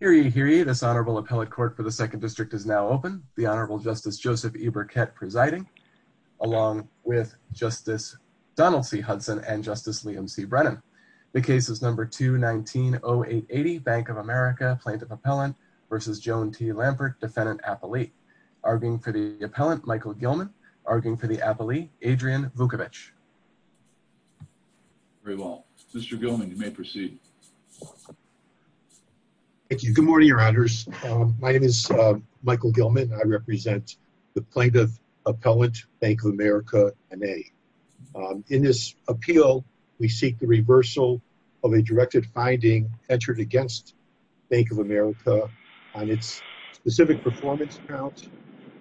Hear ye, hear ye, this Honorable Appellate Court for the Second District is now open. The Honorable Justice Joseph E. Burkett presiding, along with Justice Donald C. Hudson and Justice Liam C. Brennan. The case is No. 2-19-0880, Bank of America, Plaintiff-Appellant v. Joan T. Lampert, Defendant-Appellee. Arguing for the Appellant, Michael Gilman. Arguing for the Appellee, Adrian Vukovic. Very well. Mr. Gilman, you may proceed. Thank you. Good morning, Your Honors. My name is Michael Gilman. I represent the Plaintiff-Appellant, Bank of America, N.A. In this appeal, we seek the reversal of a directed finding entered against Bank of America on its specific performance count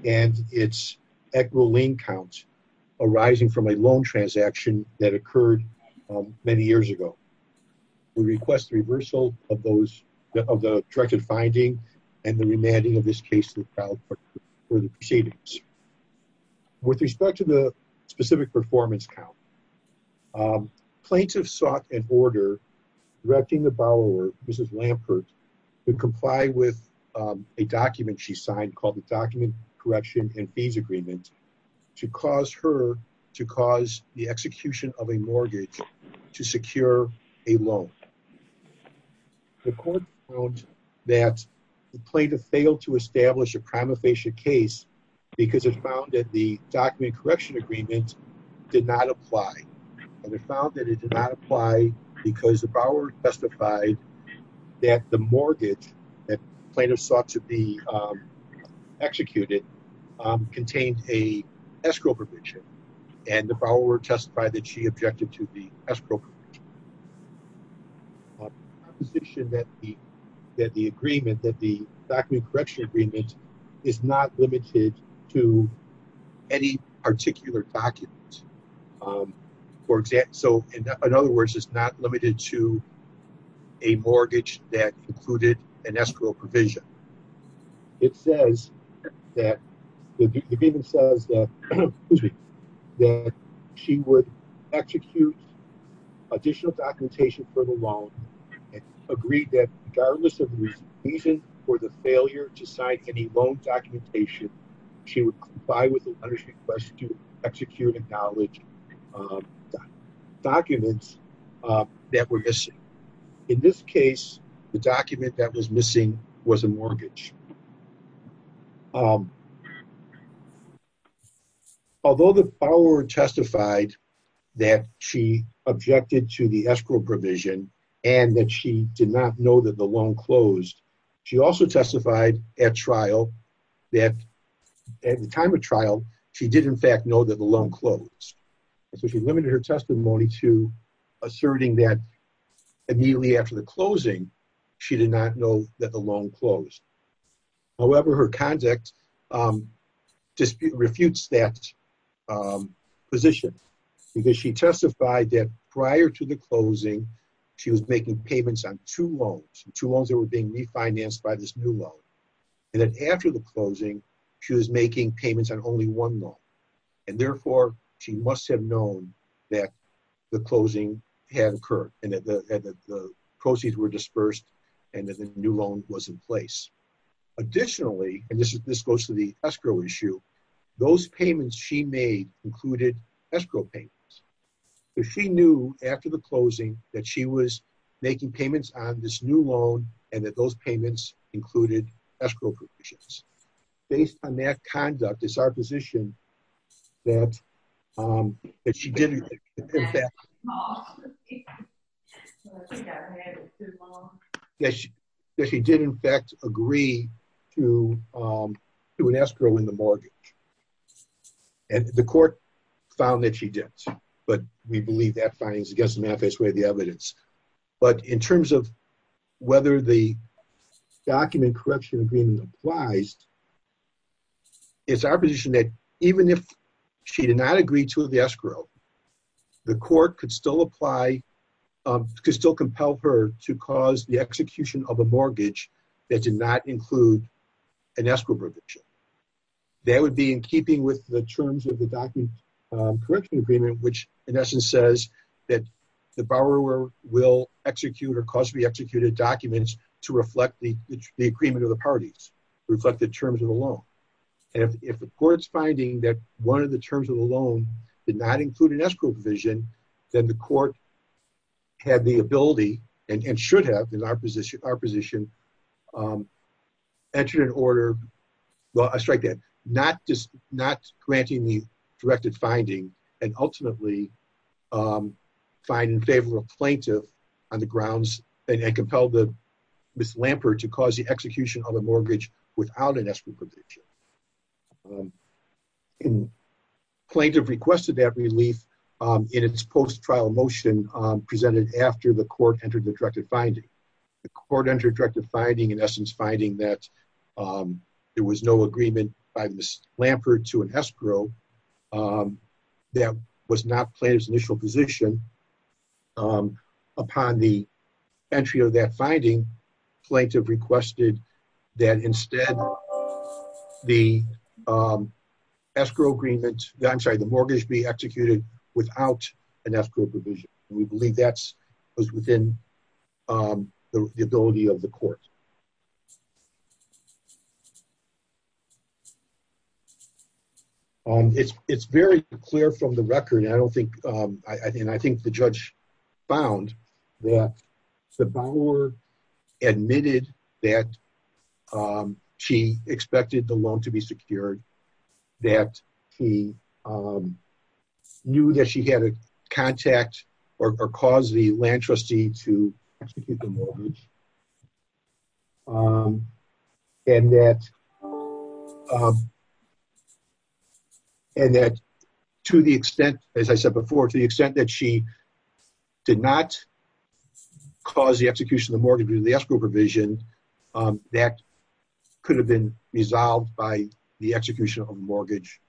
and its equivalent count arising from a loan transaction that occurred many years ago. We request the reversal of the directed finding and the remanding of this case to the crowd for the proceedings. With respect to the specific performance count, plaintiffs sought an order directing the borrower, Mrs. Lampert, to comply with a document she signed called the Document Correction and Fees Agreement to cause her to cause the execution of a mortgage to secure a loan. The court found that the plaintiff failed to establish a prima facie case because it found that the Document Correction Agreement did not apply. And it found that it did not apply because the borrower testified that the mortgage that plaintiffs sought to be executed contained a escrow provision, and the borrower testified that she objected to the escrow provision. On the proposition that the agreement, that the Document Correction Agreement, is not limited to any particular document, for example, so in other words, it's not limited to a mortgage that included an escrow provision. It says that the agreement says that she would execute additional documentation for the loan and agreed that regardless of the reason for the failure to sign any loan documentation, she would comply with the letter of request to execute and acknowledge documents that were missing. In this case, the document that was missing was a mortgage. Although the borrower testified that she objected to the escrow provision and that she did not know the loan closed, she also testified at trial that at the time of trial, she did, in fact, know that the loan closed. So she limited her testimony to asserting that immediately after the closing, she did not know that the loan closed. However, her conduct disputes that position because she testified that prior to the closing, she was making payments on two loans. Two loans that were being refinanced by this new loan. And then after the closing, she was making payments on only one loan. And therefore, she must have known that the closing had occurred and that the proceeds were dispersed and that the new loan was in place. Additionally, and this goes to the escrow issue, those payments she made included escrow payments. She knew after the closing that she was making payments on this new loan and that those payments included escrow provisions. Based on that conduct, it's our position that she did in fact agree to an escrow in the mortgage. And the court found that she did. But we believe that finding is against the manifest way of the evidence. But in terms of whether the document correction agreement applies, it's our position that even if she did not agree to the escrow, the court could still compel her to cause the execution of a mortgage that did not include an escrow provision. That would be in keeping with the terms of the document correction agreement, which in essence says that the borrower will execute or cause to be executed documents to reflect the agreement of the parties, reflect the terms of the loan. And if the court's finding that one of the terms of the loan did not include an escrow provision, then the court had the ability and should have in our position entered an order, well, I strike that, not granting the directed finding and ultimately find in favor of a plaintiff on the grounds and compel Ms. Lampert to cause the request of that relief in its post-trial motion presented after the court entered the directed finding. The court entered directed finding in essence finding that there was no agreement by Ms. Lampert to an escrow that was not plaintiff's initial position. Upon the entry of that finding, plaintiff requested that instead the escrow agreement, I'm sorry, the mortgage be executed without an escrow provision. We believe that's within the ability of the court. It's very clear from the record. I don't think, and I think the judge found that the borrower admitted that she expected the loan to be secured, that he knew that she had a contact or caused the land trustee to execute the mortgage. And that and that to the extent, as I said before, to the extent that she did not cause the execution of the mortgage due to the escrow provision, that could have been resolved by the execution of the mortgage.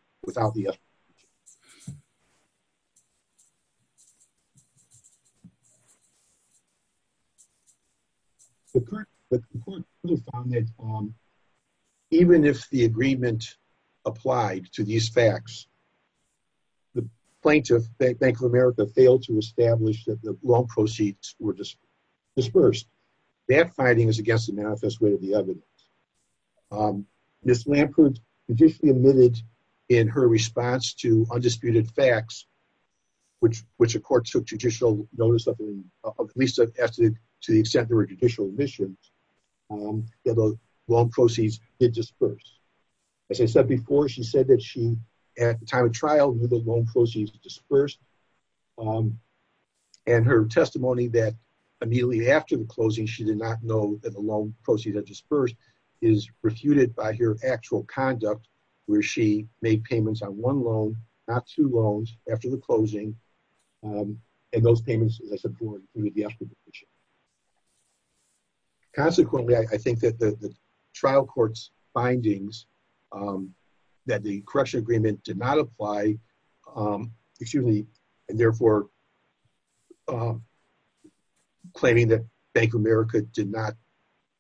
Even if the agreement applied to these facts, the plaintiff Bank of America failed to establish that the loan proceeds were dispersed. That finding is against the manifest way of the evidence. Ms. Lampert admitted in her response to undisputed facts, which the court took judicial notice of, at least to the extent there were judicial admissions, that the loan proceeds did disperse. As I said before, she said that she, at the time of trial, knew the loan proceeds dispersed. And her testimony that immediately after the closing, she did not know that the loan proceeds had dispersed is refuted by her actual conduct, where she made payments on one of the escrow provisions. Consequently, I think that the trial court's findings that the correction agreement did not apply, excuse me, and therefore claiming that Bank of America did not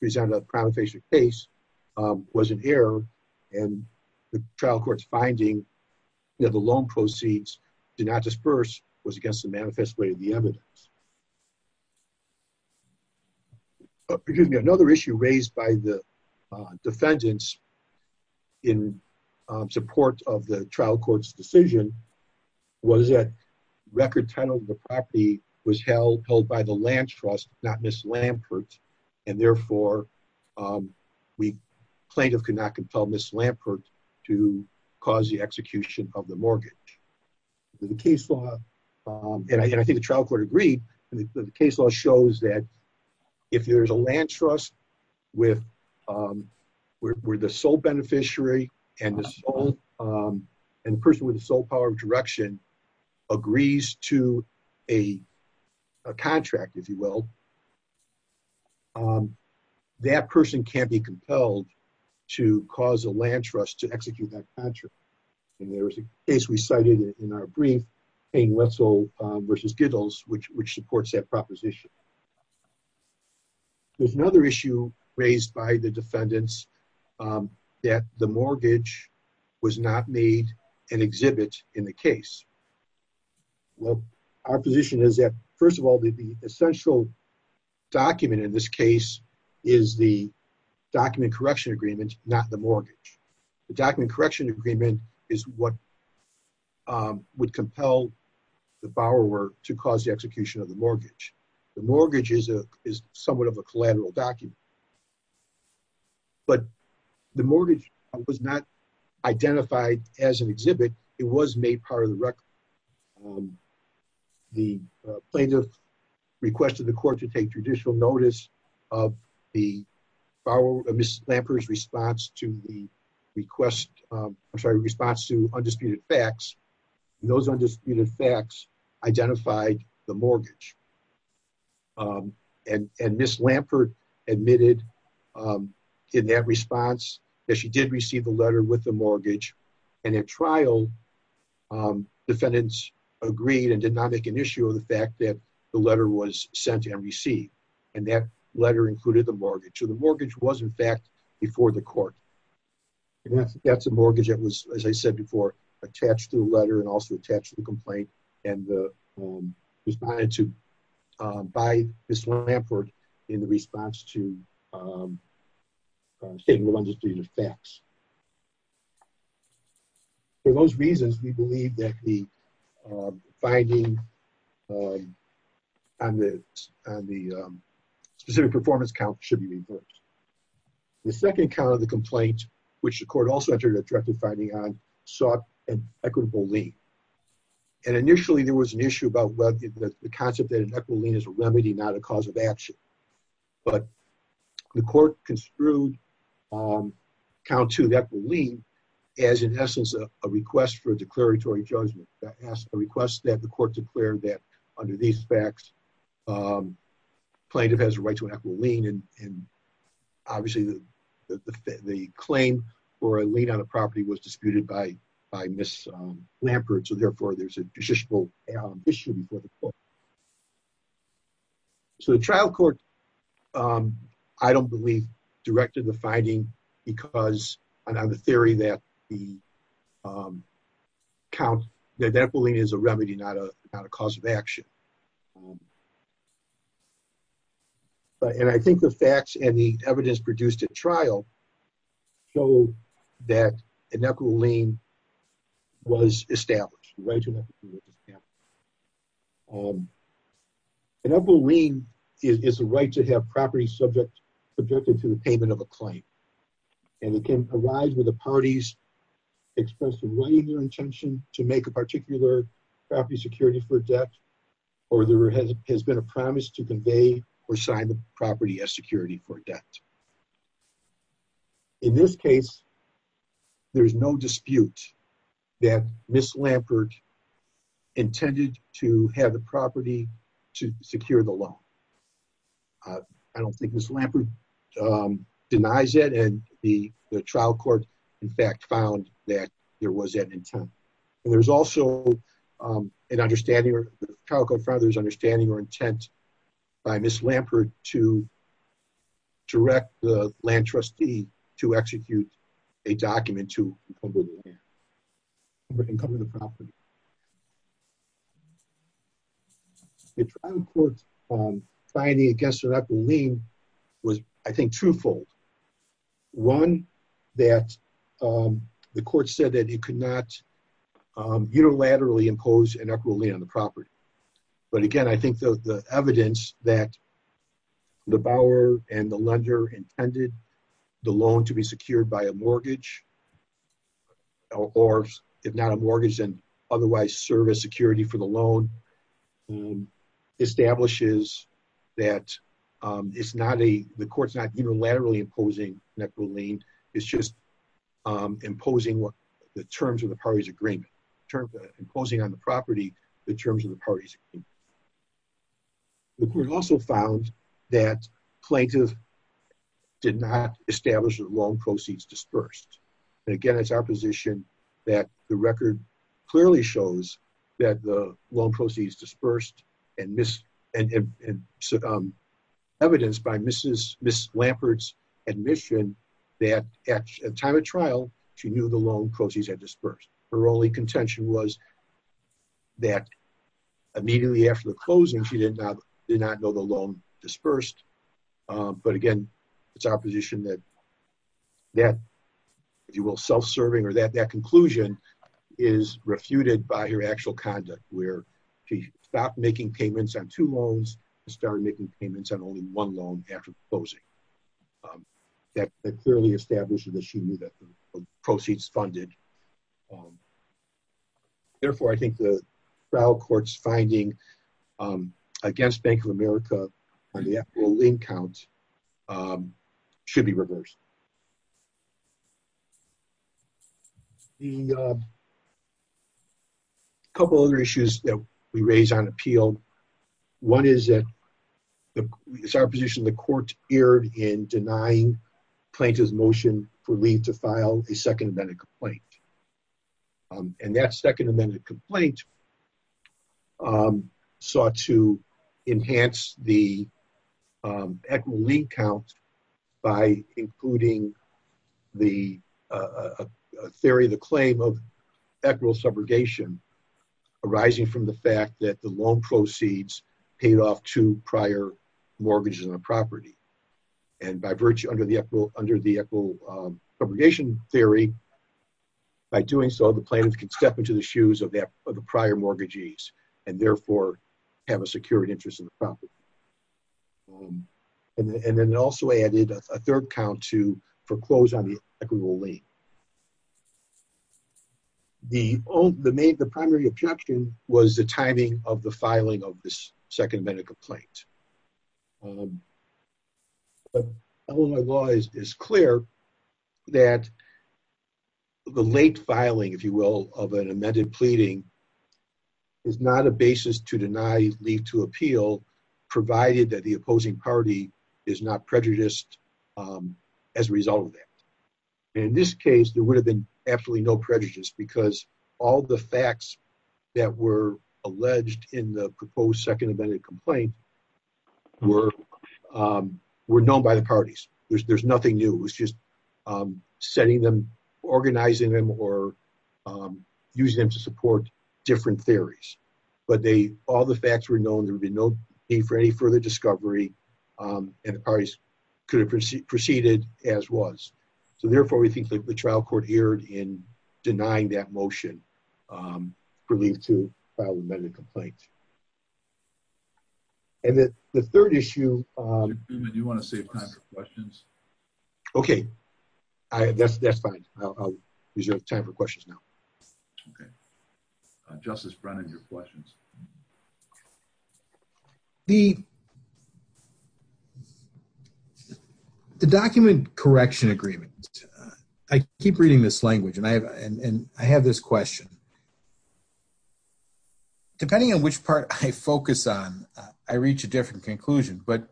present a primary case was an error. And the trial court's finding that the loan proceeds did not disperse was against the manifest way of the evidence. Another issue raised by the defendants in support of the trial court's decision was that record title of the property was held by the land trust, not Ms. Lampert. And therefore, plaintiff could not compel Ms. Lampert to cause the execution of the mortgage. The case law, and I think the trial court agreed, the case law shows that if there's a land trust where the sole beneficiary and the person with the sole power of direction agrees to a contract, if you will, that person can't be compelled to cause a land trust to execute that contract. And there was a case we cited in our brief, Payne-Wetzel versus Gittles, which supports that proposition. There's another issue raised by the defendants that the mortgage was not made an exhibit in the case. Well, our position is that, first of all, the essential document in this case is the document correction agreement, not the mortgage. The document correction agreement is what would compel the borrower to cause the execution of the mortgage. The mortgage is somewhat of a collateral document. But the mortgage was not identified as an exhibit. It was made part of the record. The plaintiff requested the court to take judicial notice of the borrower, Ms. Lampert's response to the request, I'm sorry, response to undisputed facts. Those undisputed facts identified the um, in that response, that she did receive a letter with the mortgage. And in trial, defendants agreed and did not make an issue of the fact that the letter was sent and received. And that letter included the mortgage. So the mortgage was in fact, before the court. That's a mortgage that was, as I said before, attached to the letter and also attached to the um, state of the undisputed facts. For those reasons, we believe that the, um, finding, um, on the, on the, um, specific performance count should be reversed. The second count of the complaint, which the court also entered a directive finding on, sought an equitable lien. And initially there was an issue about whether the concept that an equitable lien is a remedy, not a cause of action. But the court construed, um, count to that lien as in essence, a request for a declaratory judgment that asked a request that the court declared that under these facts, um, plaintiff has a right to an equitable lien. And obviously the, the claim for a lien on a property was So the trial court, um, I don't believe directed the finding because I know the theory that the, um, count that that bullying is a remedy, not a, not a cause of action. But, and I think the facts and the evidence produced at trial show that an equitable lien was established. An equitable lien is a right to have property subject, subjected to the payment of a claim. And it can arise with the parties expressed in writing their intention to make a particular property security for debt, or there has been a promise to convey or sign the property as In this case, there's no dispute that Ms. Lampert intended to have the property to secure the loan. I don't think Ms. Lampert, um, denies it. And the trial court, in fact, found that there was an intent. And there's also, um, an understanding or Calico father's understanding or intent By Ms. Lampert to direct the land trustee to execute a document to Income of the property. The trial court, um, finding against an equitable lien was I think twofold. One that, um, the court said that it could not, um, unilaterally impose an equitable lien on the property. But again, I think the evidence that the bower and the lender intended the loan to be secured by a mortgage or if not a mortgage and otherwise service security for the loan. Establishes that it's not a, the court's not unilaterally imposing an equitable lien, it's just imposing what the terms of the parties agreement, imposing on the property, the terms of the parties. The court also found that plaintiff did not establish the loan proceeds dispersed. And again, it's our position that the record clearly shows that the loan proceeds dispersed and this evidence by Mrs. Ms. Lampert's admission that at a time of trial, she knew the loan proceeds had dispersed. Her only contention was that immediately after the closing, she did not, did not know the loan dispersed. But again, it's our position that, that if you will self-serving or that, that conclusion is refuted by her actual conduct where she stopped making payments on two loans and started making payments on only one loan after closing. That clearly established that she knew that the proceeds funded. Therefore, I think the trial court's finding against Bank of America on the equitable lien count should be reversed. The couple other issues that we raise on appeal, one is that it's our position the court erred in denying plaintiff's motion for lien to file a second amendment complaint. And that second amendment complaint sought to enhance the equitable lien count by including the theory of the claim of subrogation arising from the fact that the loan proceeds paid off to prior mortgages on the property. And by virtue under the equitable subrogation theory, by doing so the plaintiff can step into the shoes of the prior mortgagees and therefore have a secured interest in the property. And then it also added a third count to foreclose on the equitable lien. The main, the primary objection was the timing of the filing of this second amendment complaint. Illinois law is clear that the late filing, if you will, of an amended pleading is not a basis to deny leave to appeal, provided that the opposing party is not prejudiced as a result of that. And in this case, there would have been absolutely no prejudice because all the facts that were alleged in the proposed second amendment complaint were known by the parties. There's nothing new. It was just setting them, organizing them, or using them to support different theories. But all the facts were known. There would be no need for any further discovery. And the parties could have proceeded as was. So therefore, we think that the trial court erred in denying that motion for leave to file an amended complaint. And the third issue- Judge Newman, do you want to save time for questions? Okay. That's fine. I'll reserve time for questions now. Okay. Justice Brennan, your questions. The document correction agreement, I keep reading this language and I have this question. Depending on which part I focus on, I reach a different conclusion. But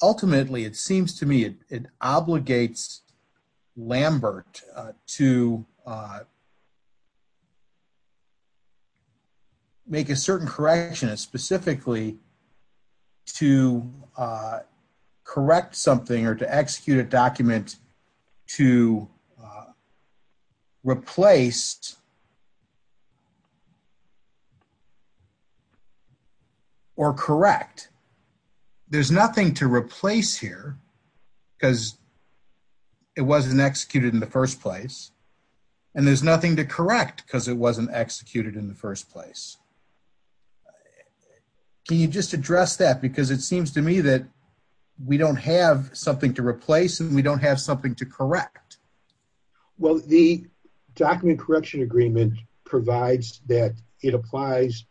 ultimately, it seems to me it obligates Lambert to make a certain correction specifically to correct something or to execute a document to replace or correct. There's nothing to replace here because it wasn't executed in the first place. And there's nothing to correct because it wasn't executed in the first place. Can you just address that? Because it seems to me that we don't have something to replace and we don't have something to correct. Well, the document correction agreement provides that it applies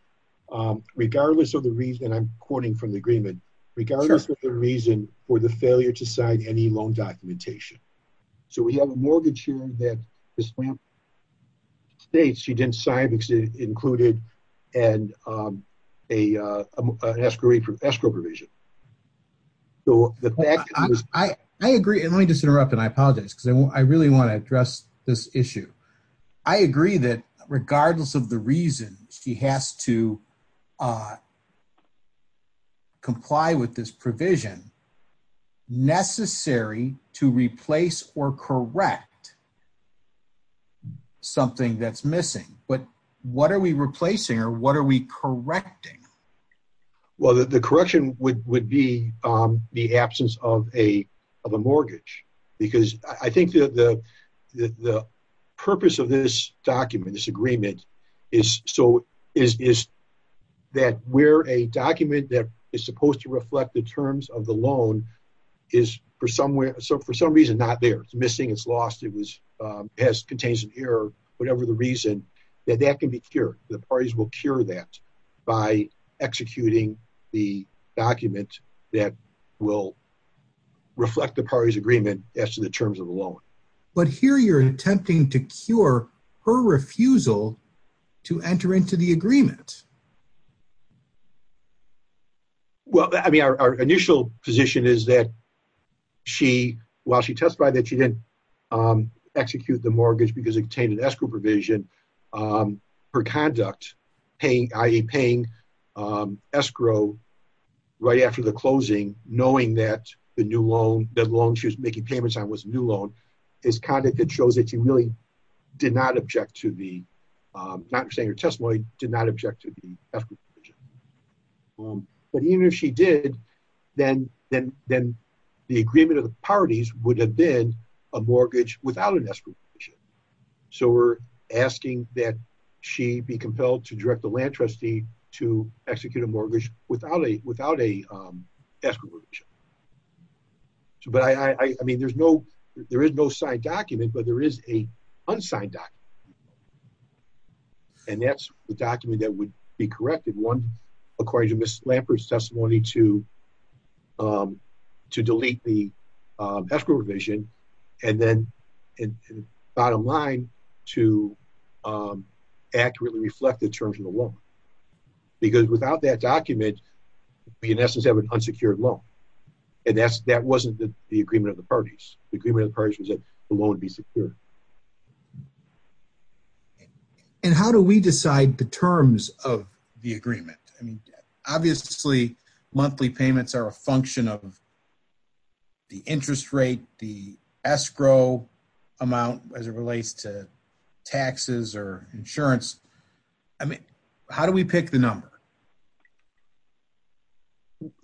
regardless of the reason, and I'm quoting from the agreement, regardless of the reason for the failure to sign any loan documentation. So we have a mortgage here that Ms. Lambert states she didn't sign because it included an escrow provision. So the fact is- I agree. And let me just interrupt and I apologize because I really want to address this issue. I agree that regardless of the reason she has to comply with this provision, necessary to replace or correct something that's missing. But what are we replacing or what are we correcting? Well, the correction would be the absence of a mortgage. Because I think the purpose of this document that is supposed to reflect the terms of the loan is for some reason not there. It's missing, it's lost, it contains an error, whatever the reason, that can be cured. The parties will cure that by executing the document that will reflect the party's agreement as to the terms of the loan. But here you're attempting to cure her refusal to enter into the agreement. Well, I mean, our initial position is that she, while she testified that she didn't execute the mortgage because it contained an escrow provision, her conduct, i.e. paying escrow right after the closing, knowing that the loan she was making payments on was a new loan, is conduct that shows that she really did not object to the, not saying her testimony, did not but even if she did, then the agreement of the parties would have been a mortgage without an escrow provision. So we're asking that she be compelled to direct the land trustee to execute a mortgage without a escrow provision. But I mean, there is no signed document, but there is a Lambert's testimony to delete the escrow provision and then bottom line to accurately reflect the terms of the loan. Because without that document, we in essence have an unsecured loan. And that wasn't the agreement of the parties. The agreement of the parties was that the loan would be secure. And how do we decide the terms of the agreement? I mean, obviously, monthly payments are a function of the interest rate, the escrow amount as it relates to taxes or insurance. I mean, how do we pick the number?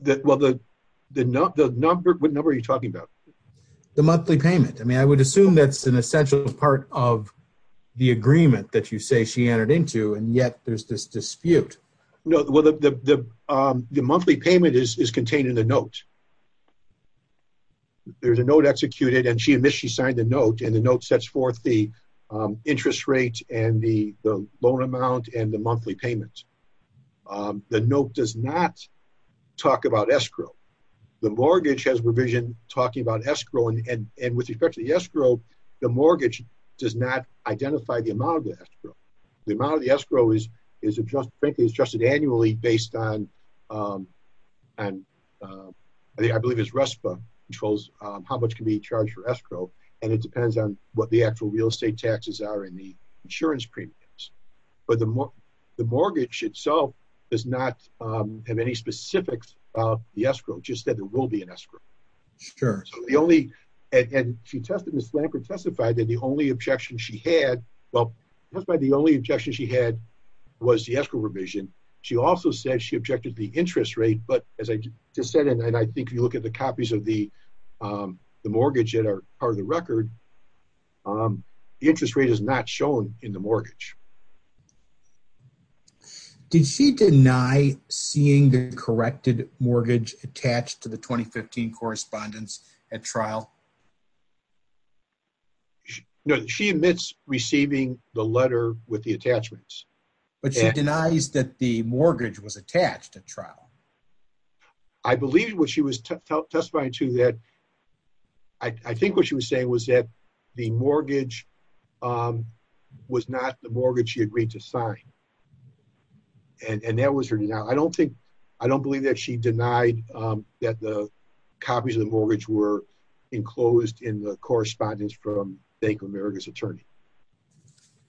That, well, the, the number, what number are you talking about? The monthly payment. I mean, I would assume that's an essential part of the agreement that you say she entered into and yet there's this dispute. No, well, the, the, the, the monthly payment is contained in the note. There's a note executed and she admits she signed the note and the note sets forth the interest rate and the loan amount and the monthly payment. The note does not talk about escrow. The mortgage has revision talking about escrow and, and, and with respect to the escrow, the mortgage does not identify the amount of the escrow. The amount of the escrow is, is adjusted, frankly, is adjusted annually based on, and I believe it's RESPA controls how much can be charged for escrow. And it depends on what the actual real estate taxes are in the escrow. Sure. So the only, and she tested this lamp and testified that the only objection she had, well, that's why the only objection she had was the escrow revision. She also said she objected to the interest rate, but as I just said, and I think if you look at the copies of the, the mortgage that are part of the record, the interest rate is not shown in the mortgage. Did she deny seeing the corrected mortgage attached to the 2015 correspondence at trial? No, she admits receiving the letter with the attachments, but she denies that the mortgage was attached at trial. I believe what she was testifying to that. I think what she was saying was that the mortgage was not the mortgage she agreed to sign. And that was her denial. I don't think, I don't believe that she denied that the copies of the mortgage were enclosed in the correspondence from Bank of America's attorney. Okay.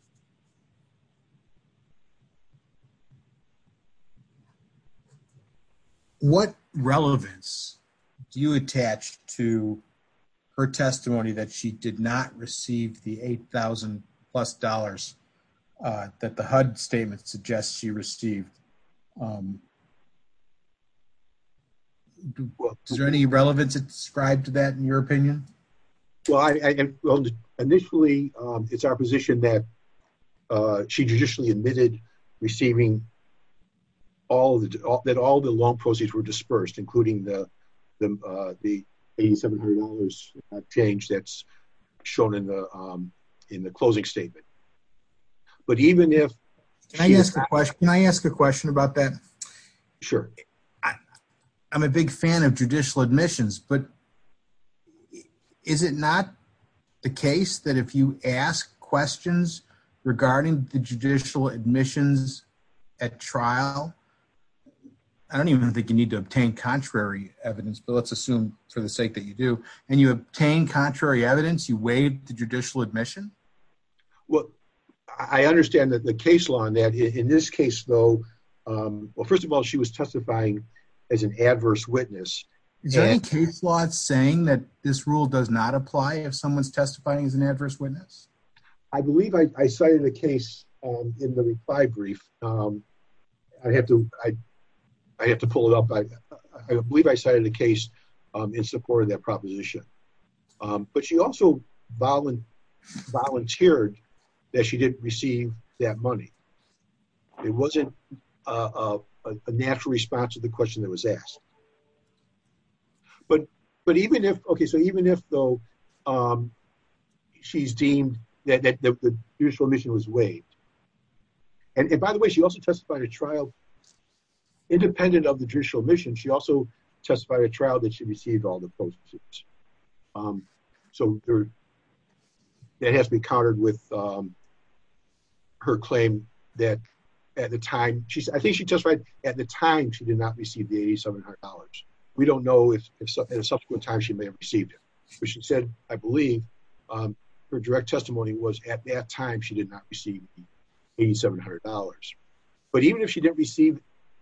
What relevance do you attach to her testimony that she did not receive the 8,000 plus dollars that the HUD statement suggests she received? Is there any relevance described to that in your opinion? Well, initially it's our position that she judicially admitted receiving all the, that all the loan proceeds were dispersed, including the, the, the $8,700 change that's shown in the, in the closing statement. But even if... Can I ask a question about that? Sure. I, I'm a big fan of judicial admissions, but is it not the case that if you ask questions regarding the judicial admissions at trial, I don't even think you need to obtain contrary evidence, but let's assume for the sake that you do, and you obtain contrary evidence, you waive the judicial admission? Well, I understand that the case law on that in this case though, well, first of all, she was testifying as an adverse witness. Is there any case law saying that this rule does not apply if someone's testifying as an adverse witness? I believe I cited a case in the reply brief. I have to, I, I have to pull it up. I believe I cited a case in support of that proposition. But she also volunteered that she didn't receive that money. It wasn't a natural response to the question that was asked, but, but even if, okay, so even if though she's deemed that the judicial admission was waived, and by the way, she also testified at trial, independent of the judicial admission, she also testified at trial that she received all the postage. So that has to be countered with her claim that at the time she's, I think she testified at the time she did not receive the $8,700. We don't know if at a subsequent time she may have received it, but she said, I believe her direct testimony was at that time she did not receive $8,700. But even if she didn't receive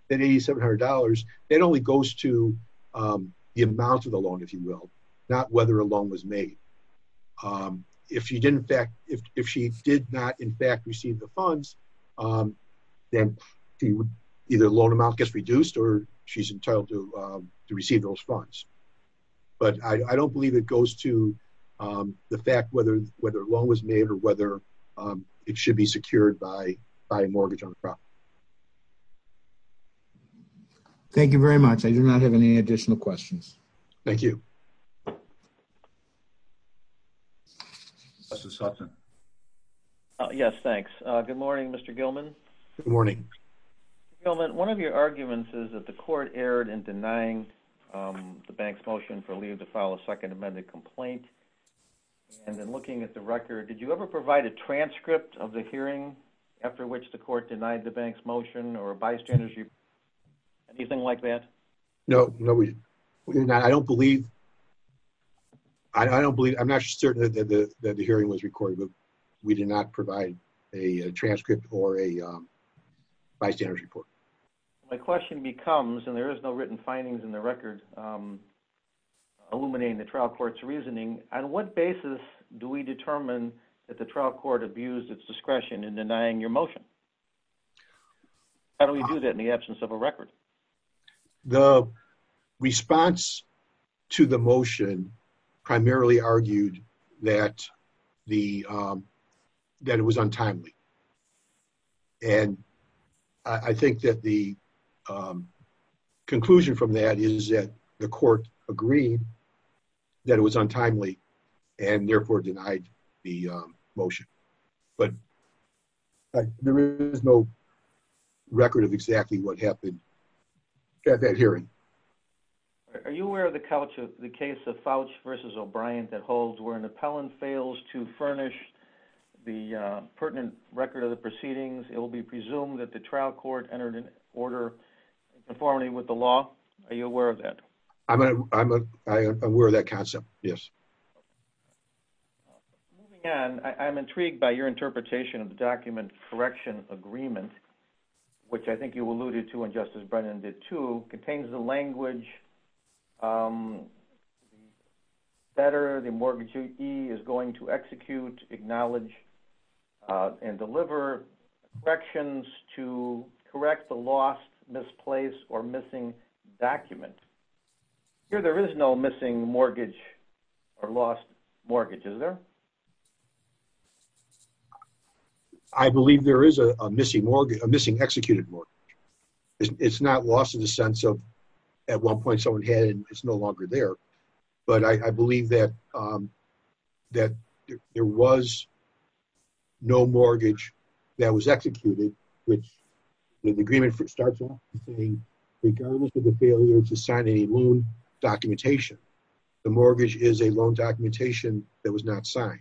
that $8,700, that only goes to amount of the loan, if you will, not whether a loan was made. If you didn't back, if she did not, in fact, receive the funds, then either loan amount gets reduced or she's entitled to receive those funds. But I don't believe it goes to the fact whether, whether a loan was made or whether it should be secured by, by a mortgage on the property. Thank you very much. I do not have any additional questions. Thank you. Yes, thanks. Good morning, Mr. Gilman. Good morning. Gilman, one of your arguments is that the court erred in denying the bank's motion for leave to file a second amended complaint. And then looking at the record, did you ever provide a transcript of the hearing after which the court denied the bank's motion or a bystander's report? Anything like that? No, no, we did not. I don't believe, I don't believe, I'm not certain that the, that the hearing was recorded, but we did not provide a transcript or a bystander's report. My question becomes, and there is no written findings in the record illuminating the trial court's reasoning. On what basis do we determine that the trial court abused its discretion in denying your motion? How do we do that in the absence of a record? The response to the motion primarily argued that the, that it was untimely. And I think that the conclusion from that is that the court agreed that it was untimely and therefore denied the motion. But there is no record of exactly what happened at that hearing. Are you aware of the couch of the case of Fouch versus O'Brien that holds where an record of the proceedings, it will be presumed that the trial court entered an order conforming with the law? Are you aware of that? I'm aware of that concept. Yes. Moving on, I'm intrigued by your interpretation of the document correction agreement, which I think you alluded to when Justice Brennan did too, contains the language, better the mortgagee is going to execute, acknowledge, uh, and deliver corrections to correct the lost misplaced or missing document. Here, there is no missing mortgage or lost mortgage, is there? I believe there is a missing mortgage, a missing executed mortgage. It's not lost in the sense of at one point someone had it and it's no longer there. But I believe that, um, that there was no mortgage that was executed, which the agreement starts off saying, regardless of the failure to sign any loan documentation, the mortgage is a loan documentation that was not signed.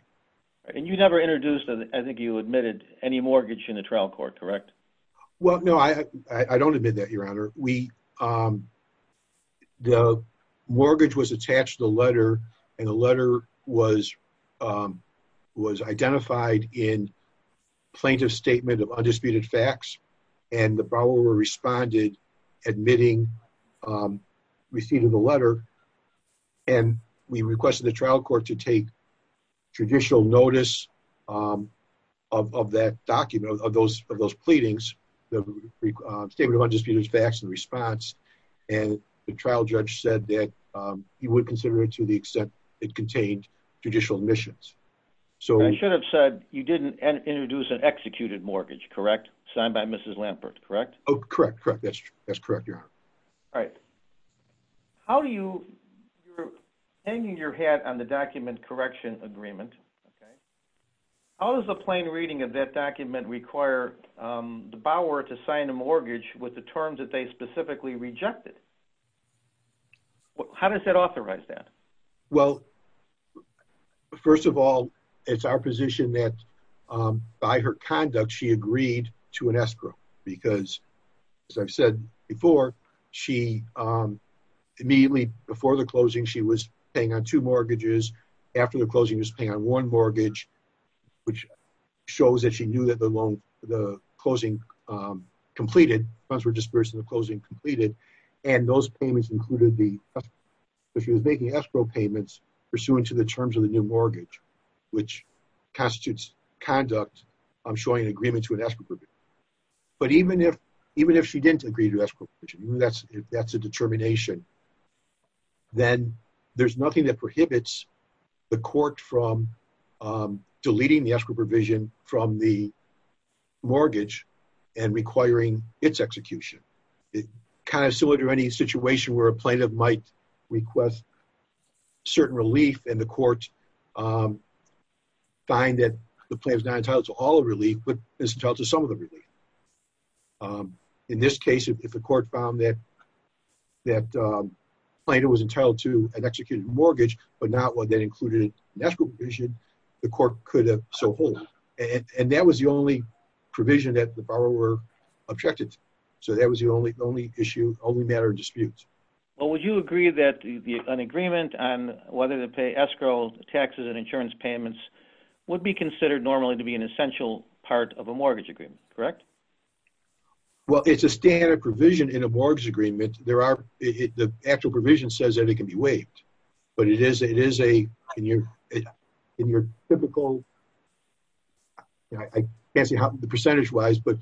And you never introduced, I think you admitted any mortgage in the trial court, correct? Well, no, I, I don't admit that your honor. We, um, the mortgage was attached to the letter and the letter was, um, was identified in plaintiff's statement of undisputed facts and the borrower responded admitting, um, receipt of the letter. And we requested the trial court to take traditional notice, um, of, of that document, of those, of those pleadings, the statement of undisputed facts and response. And the trial judge said that, um, he would consider to the extent it contained judicial missions. So I should have said you didn't introduce an executed mortgage, correct? Signed by Mrs. Lampert, correct? Oh, correct. Correct. That's, that's correct. You're right. How do you, you're hanging your hat on the document correction agreement. Okay. How does the plain reading of that document require, um, the bower to sign a mortgage with the terms that they specifically rejected? Well, how does that happen? Well, first of all, it's our position that, um, by her conduct, she agreed to an escrow because as I've said before, she, um, immediately before the closing, she was paying on two mortgages after the closing was paying on one mortgage, which shows that she knew that the loan, the closing, um, completed funds were dispersed in the closing completed. And those payments included the, if she was making escrow payments pursuant to the terms of the new mortgage, which constitutes conduct, I'm showing an agreement to an escrow. But even if, even if she didn't agree to escrow, that's, that's a determination. Then there's nothing that prohibits the court from, um, deleting the escrow provision from the mortgage and requiring it's execution. It kind of similar to any situation where a plaintiff might request certain relief and the court, um, find that the plan is not entitled to all of relief, but it's entitled to some of the relief. Um, in this case, if the court found that, that, um, plan, it was entitled to an executed mortgage, but not what that included natural vision, the court could have. So hold it. And that was the only provision that the So that was the only, only issue, only matter of dispute. Well, would you agree that an agreement on whether to pay escrow taxes and insurance payments would be considered normally to be an essential part of a mortgage agreement? Correct? Well, it's a standard provision in a mortgage agreement. There are, the actual provision says that it can be waived, but it is, it is a, in your, in your typical, I fancy how the percentage wise, but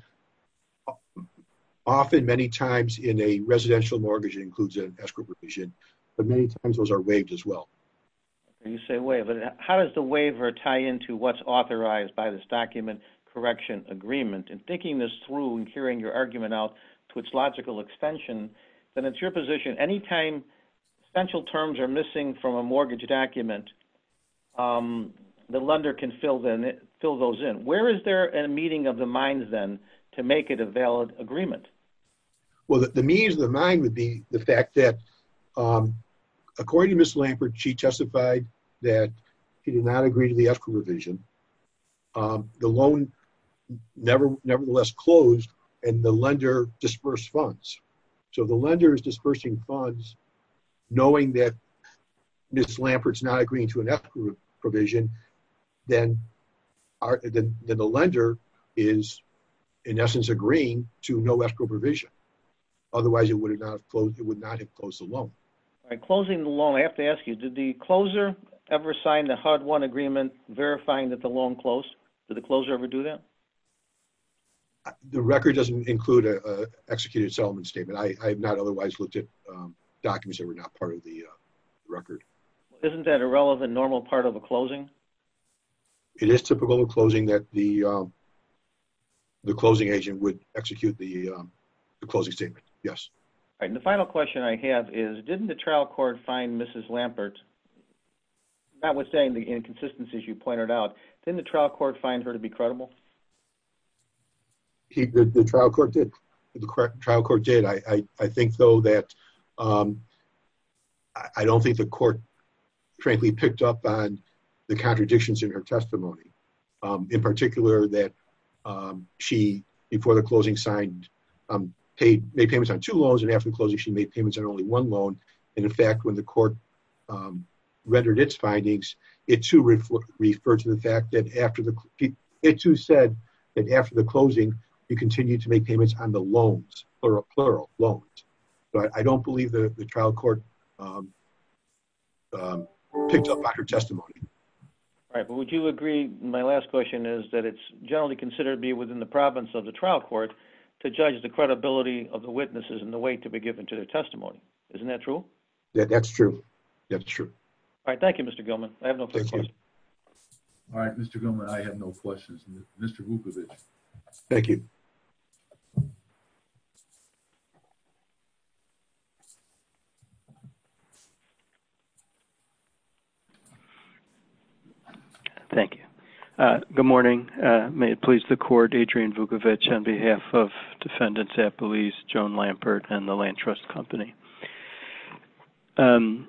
often many times in a residential mortgage, it includes an escrow provision, but many times those are waived as well. You say way, but how does the waiver tie into what's authorized by this document correction agreement and thinking this through and hearing your argument out to its logical extension, then it's your position. Anytime essential terms are missing from a mortgage document the lender can fill them, fill those in. Where is there a meeting of the minds then to make it a valid agreement? Well, the means of the mind would be the fact that according to Ms. Lampert, she testified that he did not agree to the escrow revision. The loan never, nevertheless closed and the lender dispersed funds. So the lender is dispersing funds knowing that Ms. Lampert's not agreeing to an escrow provision, then our, then the lender is in essence agreeing to no escrow provision. Otherwise it would have not closed. It would not have closed the loan. All right. Closing the loan. I have to ask you, did the closer ever signed the HUD one agreement verifying that the loan closed? Did the closer ever do that? The record doesn't include a executed settlement statement. I have not otherwise looked at documents that were not part of the record. Isn't that a relevant normal part of a closing? It is typical of closing that the closing agent would execute the closing statement. Yes. All right. And the final question I have is, didn't the trial court find Mrs. Lampert, notwithstanding the inconsistencies you pointed out, didn't the trial court find her to be credible? The trial court did. The trial court did. I think though that, I don't think the court frankly picked up on the contradictions in her testimony. In particular that she, before the closing signed, paid, made payments on two loans. And after the closing, she made payments on only one loan. And in fact, when the court rendered its findings, it too referred to the fact that after the, it too said that after the closing, you continue to make payments on the loans, plural loans. But I don't believe that the trial court picked up on her testimony. All right. But would you agree, my last question is that it's generally considered to be within the province of the trial court to judge the credibility of the witnesses and the weight to be given to their testimony. Isn't that true? That's true. That's true. All right. Thank you, Mr. Gilman. I have no questions. All right, Mr. Gilman. I have no questions. Mr. Vukovic. Thank you. Thank you. Good morning. May it please the court, Adrian Vukovic on behalf of defendants at police, Joan Lampert and the land trust company. I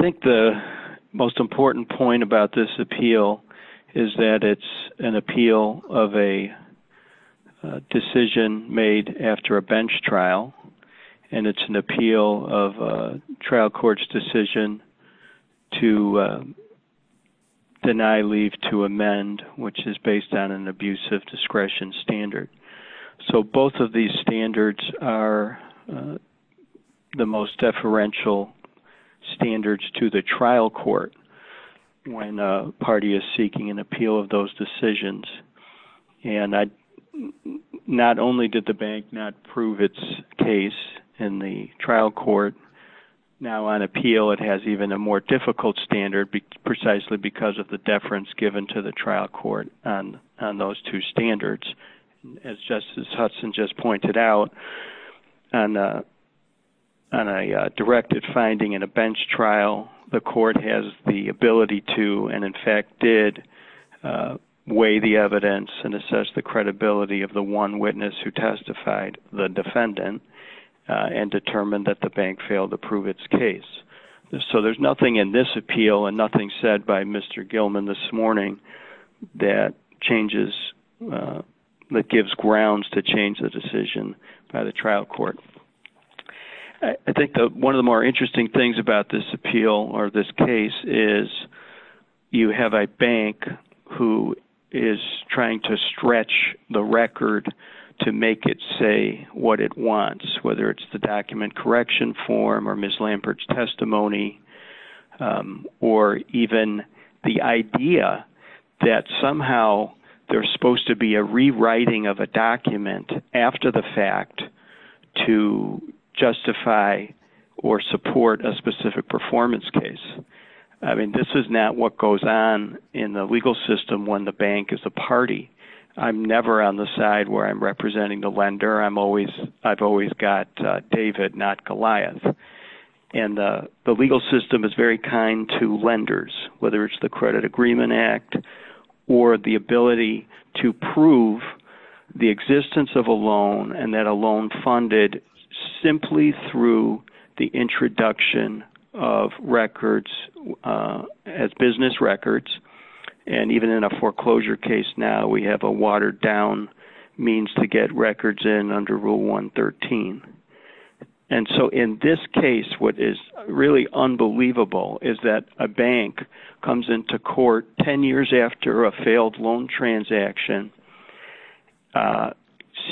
think the most important point about this appeal is that it's an appeal of a decision made after a bench trial. And it's an appeal of a trial court's decision to deny leave to amend, which is based on an abusive discretion standard. So both of these standards are the most deferential standards to the trial court when a party is seeking an appeal of those decisions. And not only did the bank not prove its case in the trial court, now on appeal it has even a more difficult standard precisely because of the deference given to the trial court on those two standards. As Justice Hudson just pointed out, on a directed finding in a bench trial, the court has the ability to and in fact did weigh the evidence and assess the credibility of the one witness who testified, the defendant, and determined that the bank failed to prove its case. So there's nothing in this appeal and nothing said by Mr. Gilman this morning that changes, that gives grounds to change the decision by the trial court. I think one of the more interesting things about this appeal or this case is you have a bank who is trying to stretch the record to make it say what it wants, whether it's the document correction form or Ms. Lambert's testimony, or even the idea that somehow there's supposed to be a rewriting of a document after the fact to justify or support a specific performance case. I mean, this is not what goes on in the legal system when the bank is the party. I'm never on the side where I'm representing the lender. I've always got David, not Goliath. And the legal system is very kind to lenders, whether it's the Credit Agreement Act or the ability to prove the existence of a loan and that a loan funded simply through the introduction of records as business records. And even in a foreclosure case now, we have a watered down means to get records in under Rule 113. And so in this case, what is really unbelievable is that a bank comes into court 10 years after a failed loan transaction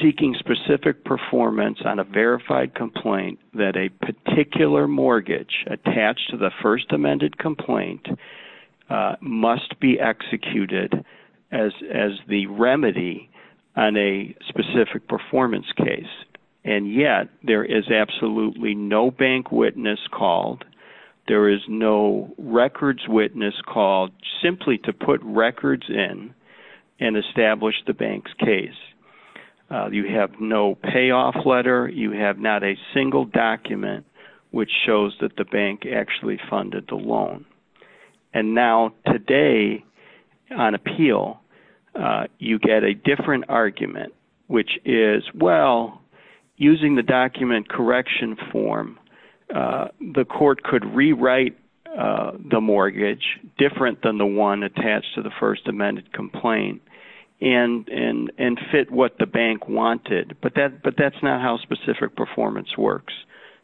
seeking specific performance on a verified complaint that a particular mortgage attached to the first amended complaint must be executed as the remedy on a specific performance case. And yet there is absolutely no bank witness called. There is no records witness called simply to put records in and establish the bank's case. You have no payoff letter. You have not a funded the loan. And now today on appeal, you get a different argument, which is, well, using the document correction form, the court could rewrite the mortgage different than the one attached to the first amended complaint and fit what the bank wanted. But that's not specific performance works.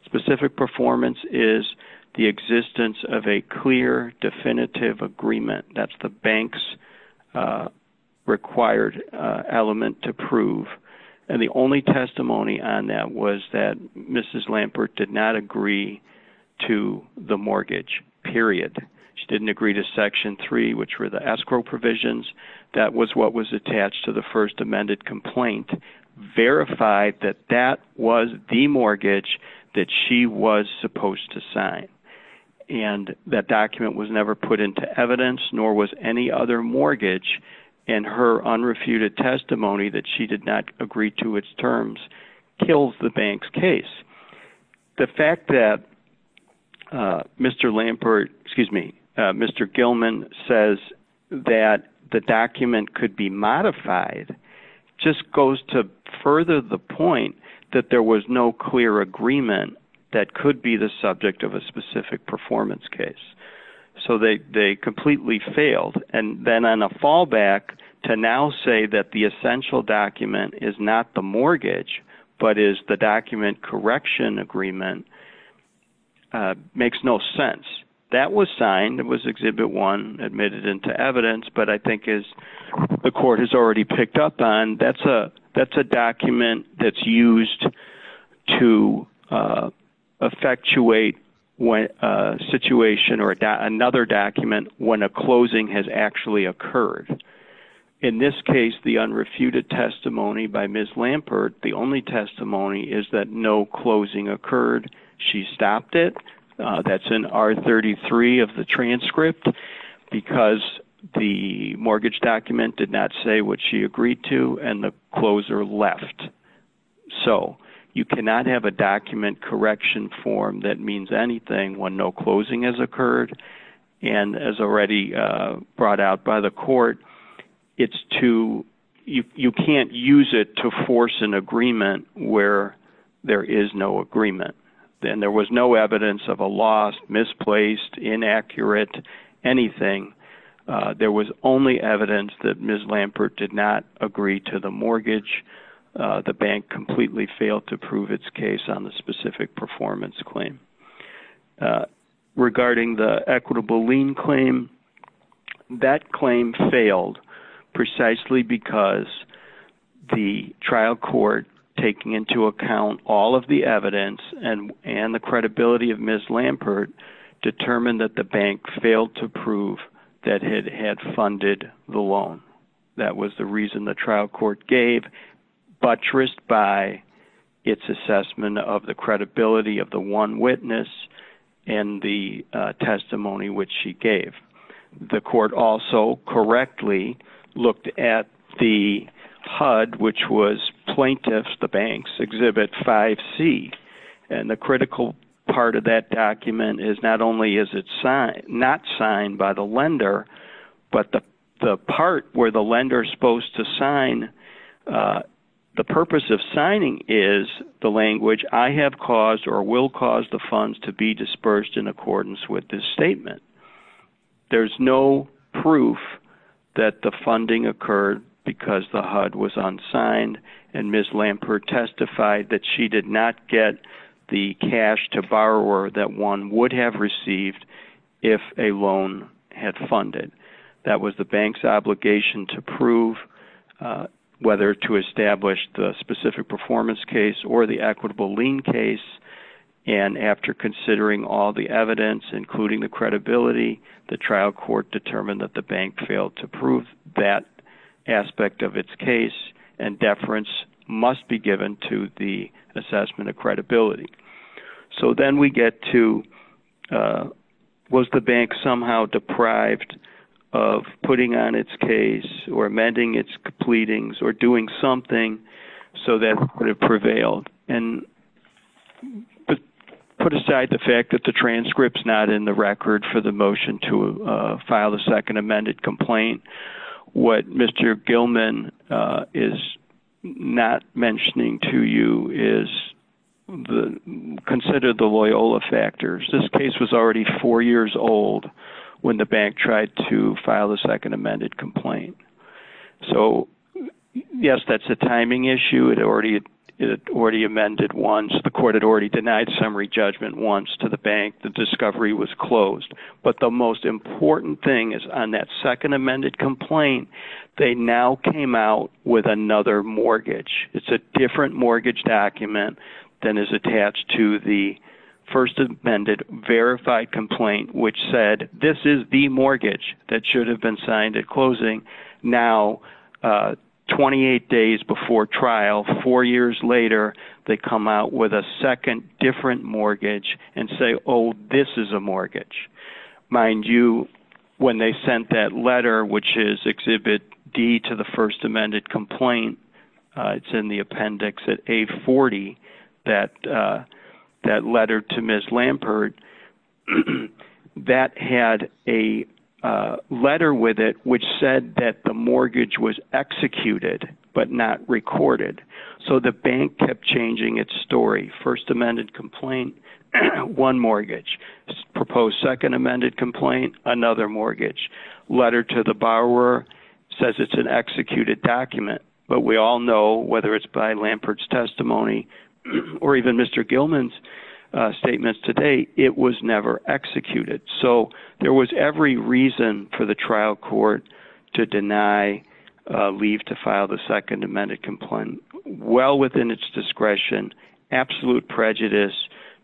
Specific performance is the existence of a clear definitive agreement. That's the bank's required element to prove. And the only testimony on that was that Mrs. Lampert did not agree to the mortgage, period. She didn't agree to Section 3, which were the escrow provisions. That was what was attached to the first amended complaint, verified that that was the mortgage that she was supposed to sign. And that document was never put into evidence, nor was any other mortgage. And her unrefuted testimony that she did not agree to its terms kills the bank's case. The fact that Mr. Lampert, excuse me, Mr. Gilman says that the document could be modified just goes to further the point that there was no clear agreement that could be the subject of a specific performance case. So they completely failed. And then on a fallback to now say that the essential document is not the mortgage, but is the document correction agreement, makes no sense. That was signed. It was Exhibit 1 admitted into evidence. But I think as the court has already picked up on, that's a document that's used to effectuate a situation or another document when a closing has actually occurred. In this case, the unrefuted testimony by Ms. Lampert, the only testimony is that no closing occurred. She stopped it. That's in R33 of the transcript because the mortgage document did not say what she agreed to and the closer left. So you cannot have a document correction form that means anything when no closing has occurred. And as already brought out by the court, you can't use it to force an agreement where there is no agreement. Then there was no evidence of a loss, misplaced, inaccurate, anything. There was only evidence that Ms. Lampert did not agree to the mortgage. The bank completely failed to prove its case on the specific performance claim. Regarding the equitable lien claim, that claim failed precisely because the trial court taking into account all of the evidence and the credibility of Ms. Lampert determined that the bank failed to prove that it had funded the loan. That was the reason the trial court gave, buttressed by its assessment of the credibility of the one witness and the testimony which she gave. The court also correctly looked at the HUD, which was plaintiff's, the bank's, exhibit 5C. And the critical part of that document is not only is it not signed by the lender, but the part where the lender is supposed to sign, the purpose of signing is the language, I have caused or will cause the funds to be dispersed in accordance with this statement. There's no proof that the funding occurred because the HUD was unsigned and Ms. Lampert testified that she did not get the cash to borrower that one would have received if a loan had funded. That was the bank's obligation to prove whether to establish the specific performance case or the equitable lien case. And after considering all the evidence, including the credibility, the trial court determined that the bank failed to prove that aspect of its case. And deference must be given to the assessment of credibility. So then we get to was the bank somehow deprived of putting on its case or amending its completings or doing something so that it prevailed? And put aside the fact that the transcript's not in the record for the motion to file a second amended complaint. What Mr. Gilman is not mentioning to you is consider the Loyola factors. This case was already four years old when the bank tried to file a second amended complaint. So yes, that's a timing issue. It already amended once. The court had already amended. The most important thing is on that second amended complaint, they now came out with another mortgage. It's a different mortgage document than is attached to the first amended verified complaint which said this is the mortgage that should have been signed at closing. Now, 28 days before trial, four years later, they come out with a second different mortgage and say, this is a mortgage. Mind you, when they sent that letter which is exhibit D to the first amended complaint, it's in the appendix at A40, that letter to Ms. Lampert, that had a letter with it which said that the mortgage was executed but not recorded. So the bank kept changing its story. First amended complaint, one mortgage. Proposed second amended complaint, another mortgage. Letter to the borrower says it's an executed document. But we all know whether it's by Lampert's testimony or even Mr. Gilman's statements to date, it was never executed. So there was every reason for the trial court to deny leave to file the second amended complaint. Well within its discretion, absolute prejudice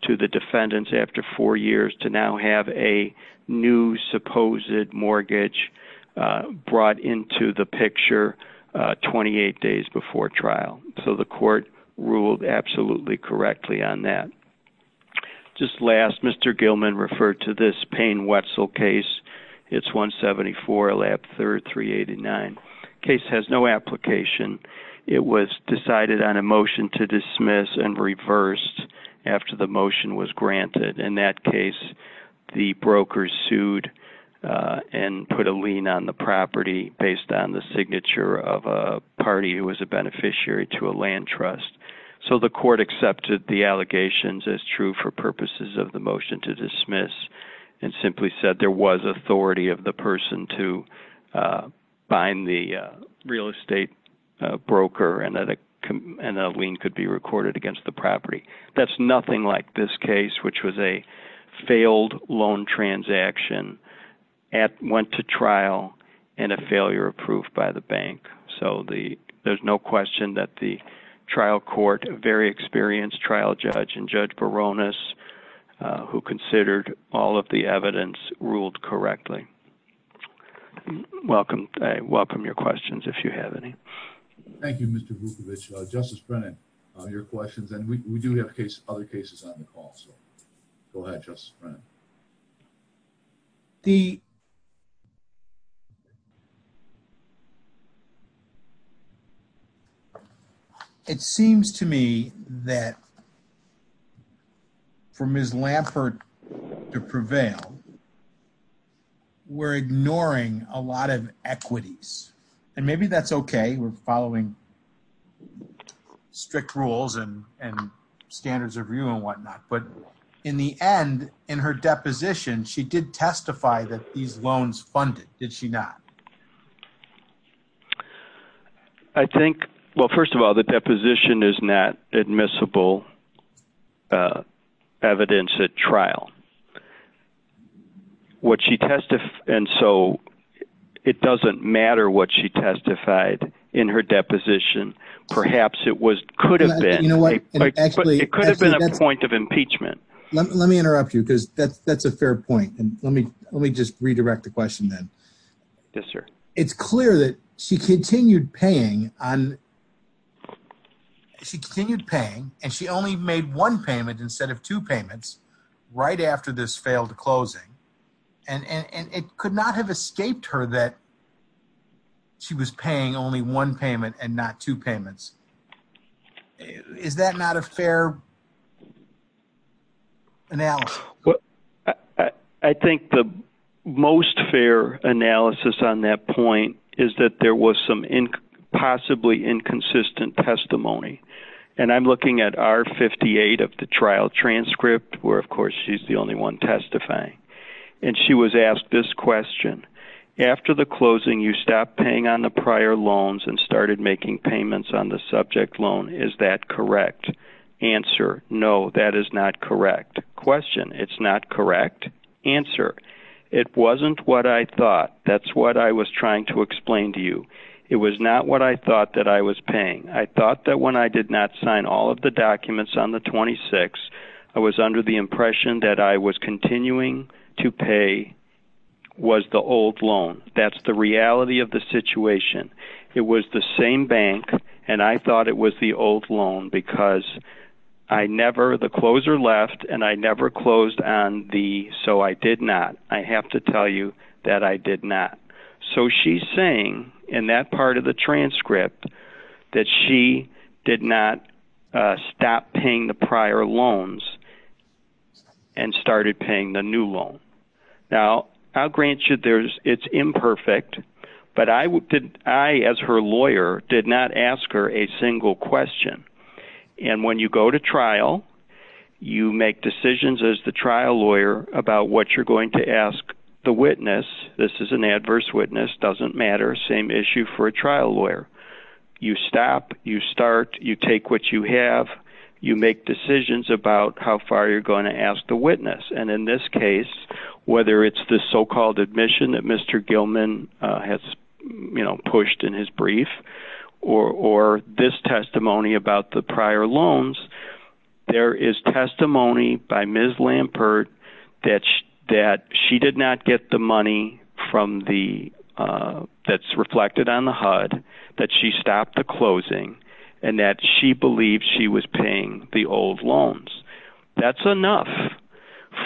to the defendants after four years to now have a new supposed mortgage brought into the picture 28 days before trial. So the court ruled absolutely correctly on that. Just last, Mr. Gilman referred to this Payne-Wetzel case. It's 174, 389. Case has no application. It was decided on a motion to dismiss and reversed after the motion was granted. In that case, the broker sued and put a lien on the property based on the signature of a party who was a beneficiary to a land trust. So the court accepted the allegations as true for purposes of the motion to dismiss and simply said there was authority of the person to bind the real estate broker and a lien could be recorded against the property. That's nothing like this case, which was a failed loan transaction, went to trial, and a failure of proof by the bank. So there's no question that the trial court, a very experienced trial judge, and Judge Baronis, who considered all of the evidence, ruled correctly. Welcome. I welcome your questions if you have any. Thank you, Mr. Vukovic. Justice Brennan, your questions, and we do have other cases on the call, Go ahead, Justice Brennan. It seems to me that for Ms. Lampert to prevail, we're ignoring a lot of equities, and maybe that's okay. We're following strict rules and standards of view and whatnot. But in the end, in her deposition, she did testify that these loans funded, did she not? I think, well, first of all, the deposition is not admissible evidence at trial. And so it doesn't matter what she testified in her deposition. Perhaps it could have been a point of impeachment. Let me interrupt you, because that's a fair point. And let me just redirect the question then. Yes, sir. It's clear that she continued paying, and she only made one payments right after this failed closing. And it could not have escaped her that she was paying only one payment and not two payments. Is that not a fair analysis? I think the most fair analysis on that point is that there was some possibly inconsistent testimony. And I'm looking at R58 of the trial transcript, where of course she's the only one testifying. And she was asked this question. After the closing, you stopped paying on the prior loans and started making payments on the subject loan. Is that correct? Answer, no, that is not correct. Question, it's not correct. Answer, it wasn't what I thought. That's what I was trying to explain to you. It was not what I thought that I was paying. I thought that when I did not sign all of the documents on the 26th, I was under the impression that I was continuing to pay was the old loan. That's the reality of the situation. It was the same bank, and I thought it was the old loan because I never, the closer left, and I never closed on the, so I did not. I have to tell you that I did not. So she's saying in that part of the transcript that she did not stop paying the prior loans and started paying the new loan. Now, I'll grant you it's imperfect, but I as her lawyer did not ask her a single question. And when you go to trial, you make decisions as the trial lawyer about what you're going to ask the witness. This is an adverse witness, doesn't matter, same issue for a trial lawyer. You stop, you start, you take what you have, you make decisions about how far you're going to ask the witness. And in this case, whether it's the so-called admission that Mr. Gilman has pushed in his brief or this testimony about the prior loans, there is testimony by Ms. Lampert that she did not get the money from the, that's reflected on the HUD, that she stopped the closing and that she believed she was paying the old loans. That's enough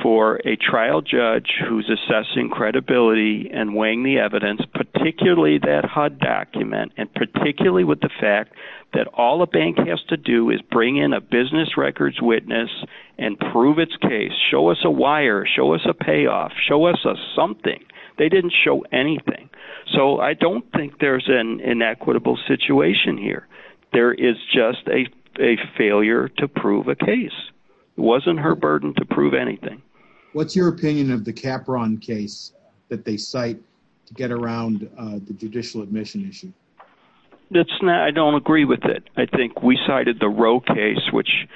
for a trial judge who's assessing credibility and weighing the evidence, particularly that HUD document, and particularly with the fact that all a bank has to do is bring in a business records witness and prove its case, show us a wire, show us a payoff, show us a something. They didn't show anything. So I don't think there's an inequitable situation here. There is just a failure to prove a case. It wasn't her burden to prove anything. What's your opinion of the Capron case that they cite to get around the judicial admission issue? That's not, I don't agree with it. I think we cited the Roe case, which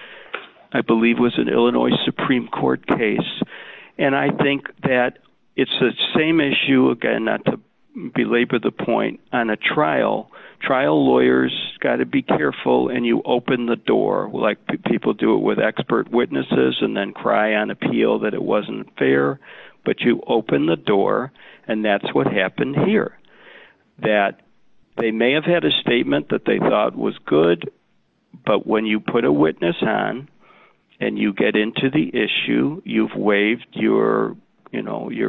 I believe was an Illinois Supreme Court case. And I think that it's the same issue again, not to belabor the point on a trial, trial lawyers got to be careful and you open the door like people do it with expert witnesses and then cry on appeal that it wasn't fair, but you open the door and that's what happened here. That they may have had a statement that they thought was good, but when you put a witness on and you get into the issue, you've waived your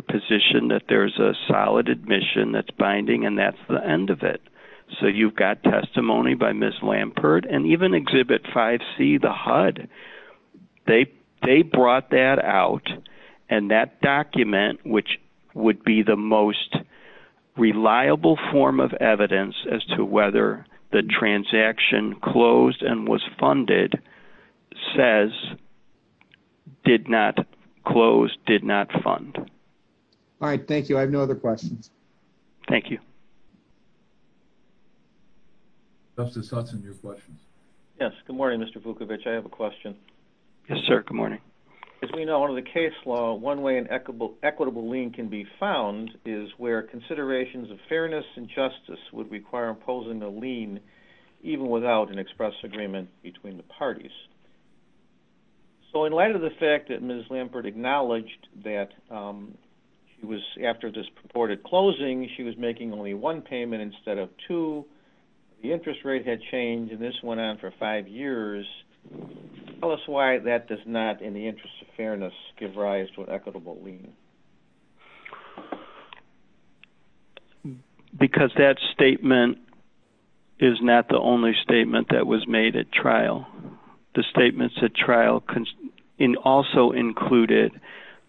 position that there's a solid admission that's binding and that's the end of it. So you've got testimony by Ms. Lampert and even Exhibit 5C, the HUD, they brought that out and that document, which would be the most reliable form of evidence as to whether the transaction closed and was funded, says did not close, did not fund. All right. Thank you. I have no other questions. Thank you. Justice Hudson, your questions. Yes. Good morning, Mr. Vukovic. I have a question. Yes, sir. Good morning. As we know under the case law, one way an equitable lien can be found is where considerations of fairness and justice would require imposing a lien even without an express agreement between the parties. So in light of the fact that Ms. Lampert acknowledged that she was, after this purported closing, she was making only one payment instead of two, the interest rate had changed and this went on for five years. Tell us why that does not, in the interest of fairness, give rise to an equitable lien? Because that statement is not the only statement that was made at trial. The statements at trial also included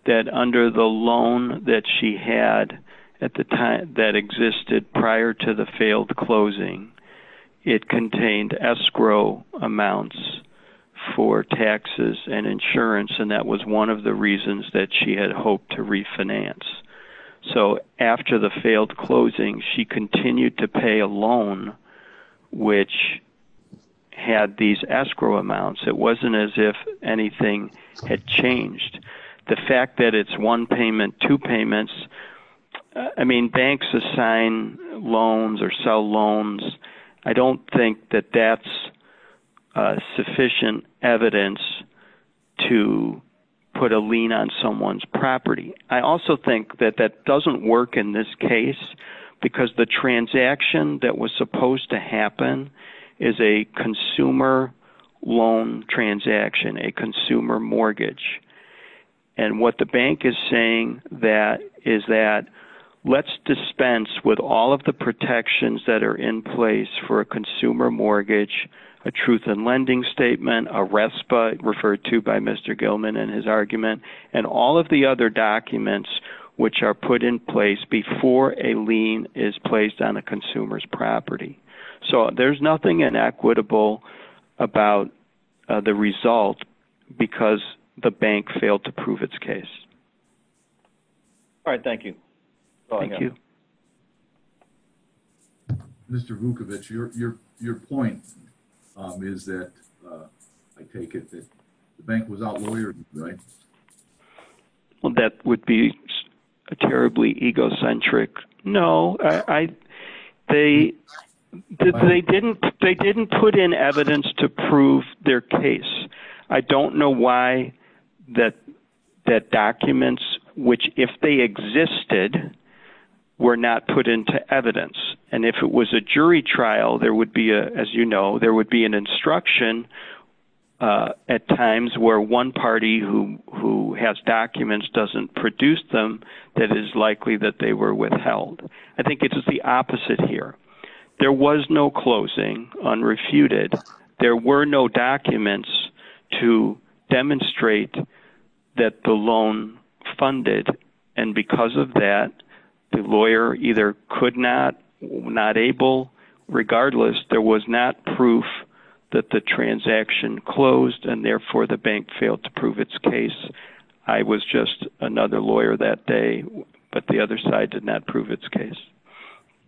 that under the loan that she had at the time that existed prior to the failed closing, it contained escrow amounts for taxes and insurance and that was one of the reasons that she had hoped to refinance. So after the failed closing, she continued to pay a loan which had these escrow amounts. It wasn't as if anything had changed. The fact that it's one payment, two payments, I mean banks assign loans or sell loans. I don't think that that's sufficient evidence to put a lien on someone's property. I also think that that doesn't work in this case because the transaction that was supposed to happen is a consumer loan transaction, a consumer mortgage. And what the bank is saying is that let's dispense with all of the protections that are in place for a consumer mortgage, a truth in lending statement, a RESPA referred to by Mr. Vukovic before a lien is placed on a consumer's property. So there's nothing inequitable about the result because the bank failed to prove its case. All right, thank you. Thank you. Mr. Vukovic, your point is that I take it that the bank was outlawed, right? Well, that would be terribly egocentric. No, they didn't put in evidence to prove their case. I don't know why that documents, which if they existed, were not put into evidence. And if it was a jury trial, there would be, as you know, there would be an instruction at times where one party who has documents doesn't produce them, that is likely that they were withheld. I think it's the opposite here. There was no closing unrefuted. There were no documents to demonstrate that the loan funded. And because of that, the lawyer either could not, not able, regardless, there was not proof that the transaction closed and therefore the bank failed to prove its case. I was just another lawyer that day, but the other side did not prove its case.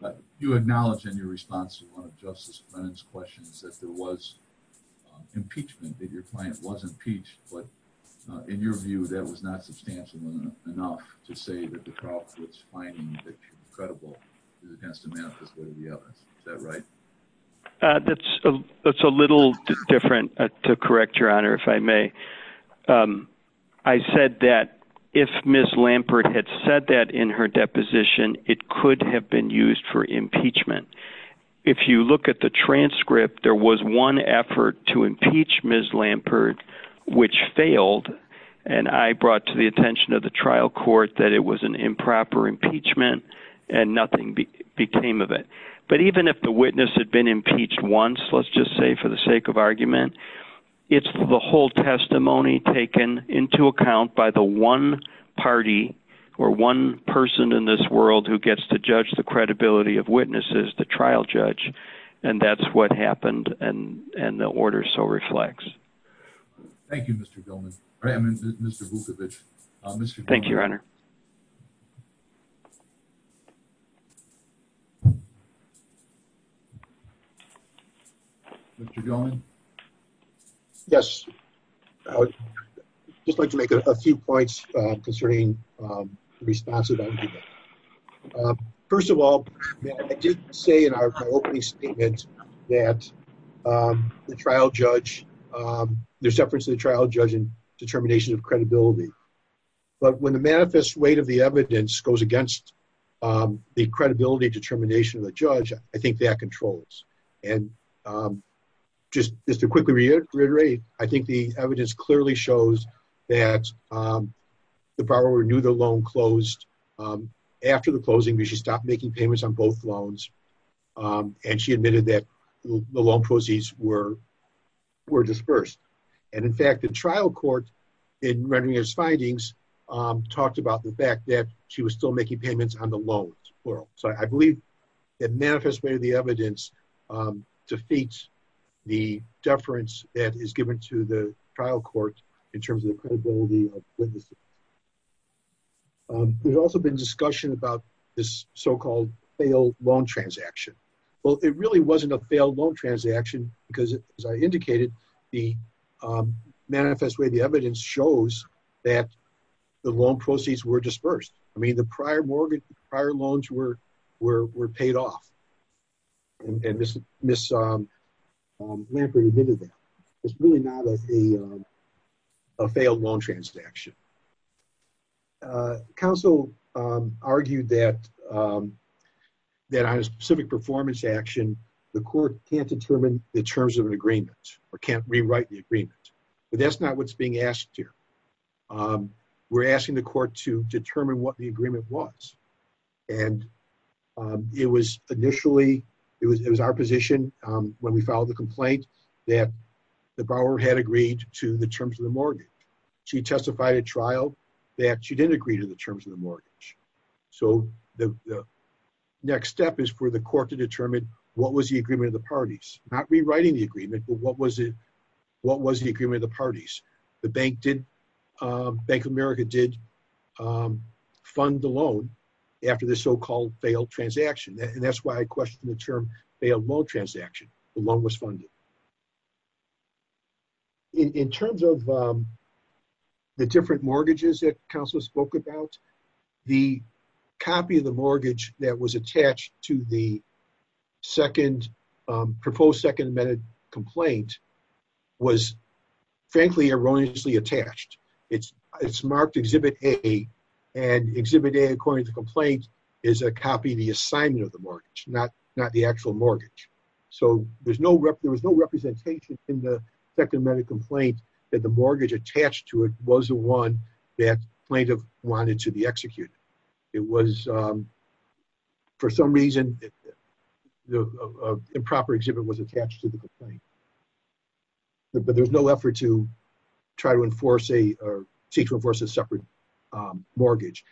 But you acknowledge in your response to one of Justice Brennan's questions that there was impeachment, that your client was impeached, but in your view, that was not the case. Is that right? That's a little different to correct, Your Honor, if I may. I said that if Ms. Lampert had said that in her deposition, it could have been used for impeachment. If you look at the transcript, there was one effort to impeach Ms. Lampert, which failed. And I brought to the attention of the trial court that it was an improper impeachment and nothing became of it. But even if the witness had been impeached once, let's just say for the sake of argument, it's the whole testimony taken into account by the one party or one person in this world who gets to judge the credibility of witnesses, the trial judge. And that's what happened. And the order so reflects. Thank you, Mr. Gilman, Mr. Vukovich. Thank you, Your Honor. Mr. Gilman? Yes. I would just like to make a few points concerning responsive argument. First of all, I did say in our opening statement that the trial judge, there's difference in the trial judge and determination of credibility. But when the manifest weight of the evidence goes against the credibility determination of the judge, I think that controls. And just to quickly reiterate, I think the evidence clearly shows that the borrower knew the loan closed. After the closing, she stopped making payments on both loans. And she admitted that the loan proceeds were dispersed. And in fact, the trial court, in rendering his findings, talked about the fact that she was still making payments on the loans. So I believe that manifest way of the evidence defeats the deference that is given to the trial court in terms of the credibility of witnesses. There's also been discussion about this so-called failed loan transaction. Well, it really wasn't a failed loan transaction because as I indicated, the manifest way of the evidence shows that the loan proceeds were dispersed. I mean, the prior mortgage, prior loans were paid off. And Ms. Lambert admitted that. It's really not a failed loan transaction. Counsel argued that on a specific performance action, the court can't determine the terms of an agreement or can't rewrite the agreement. But that's not what's being asked here. We're asking the court to determine what the agreement was. And it was initially, it was our position when we filed the complaint that the borrower had agreed to the terms of trial, that she didn't agree to the terms of the mortgage. So the next step is for the court to determine what was the agreement of the parties. Not rewriting the agreement, but what was the agreement of the parties? The Bank of America did fund the loan after the so-called failed transaction. And that's why I questioned the term failed loan transaction. The loan was funded. In terms of the different mortgages that counsel spoke about, the copy of the mortgage that was attached to the proposed second amended complaint was frankly erroneously attached. It's marked Exhibit A. And Exhibit A, according to the complaint, is a copy of the assignment of the mortgage. There's no representation in the second amended complaint that the mortgage attached to it was the one that plaintiff wanted to be executed. It was, for some reason, the improper exhibit was attached to the complaint. But there was no effort to try to enforce a, or seek to enforce a separate mortgage.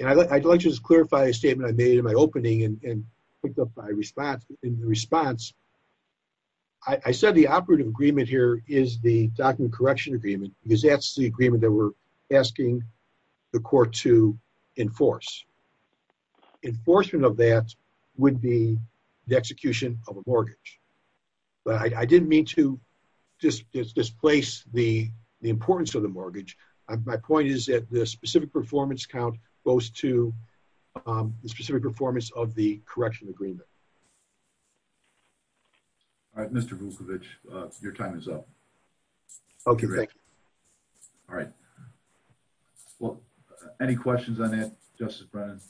And I'd like to just clarify a statement I made in my opening and picked up in the response. I said the operative agreement here is the document correction agreement, because that's the agreement that we're asking the court to enforce. Enforcement of that would be the execution of a mortgage. But I didn't mean to just displace the importance of the mortgage. My point is that the specific performance count goes to the specific performance of the agreement. All right, Mr. Vukovic, your time is up. Okay, great. All right. Well, any questions on that, Justice Brennan?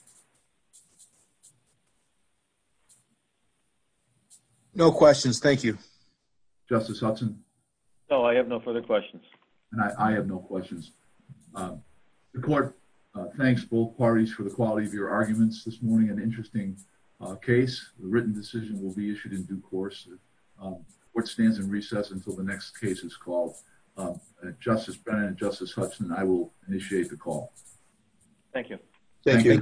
No questions, thank you. Justice Hudson? No, I have no further questions. And I have no questions. The court thanks both parties for the quality of your arguments this case. The written decision will be issued in due course. The court stands in recess until the next case is called. Justice Brennan, Justice Hudson, I will initiate the call. Thank you. Thank you.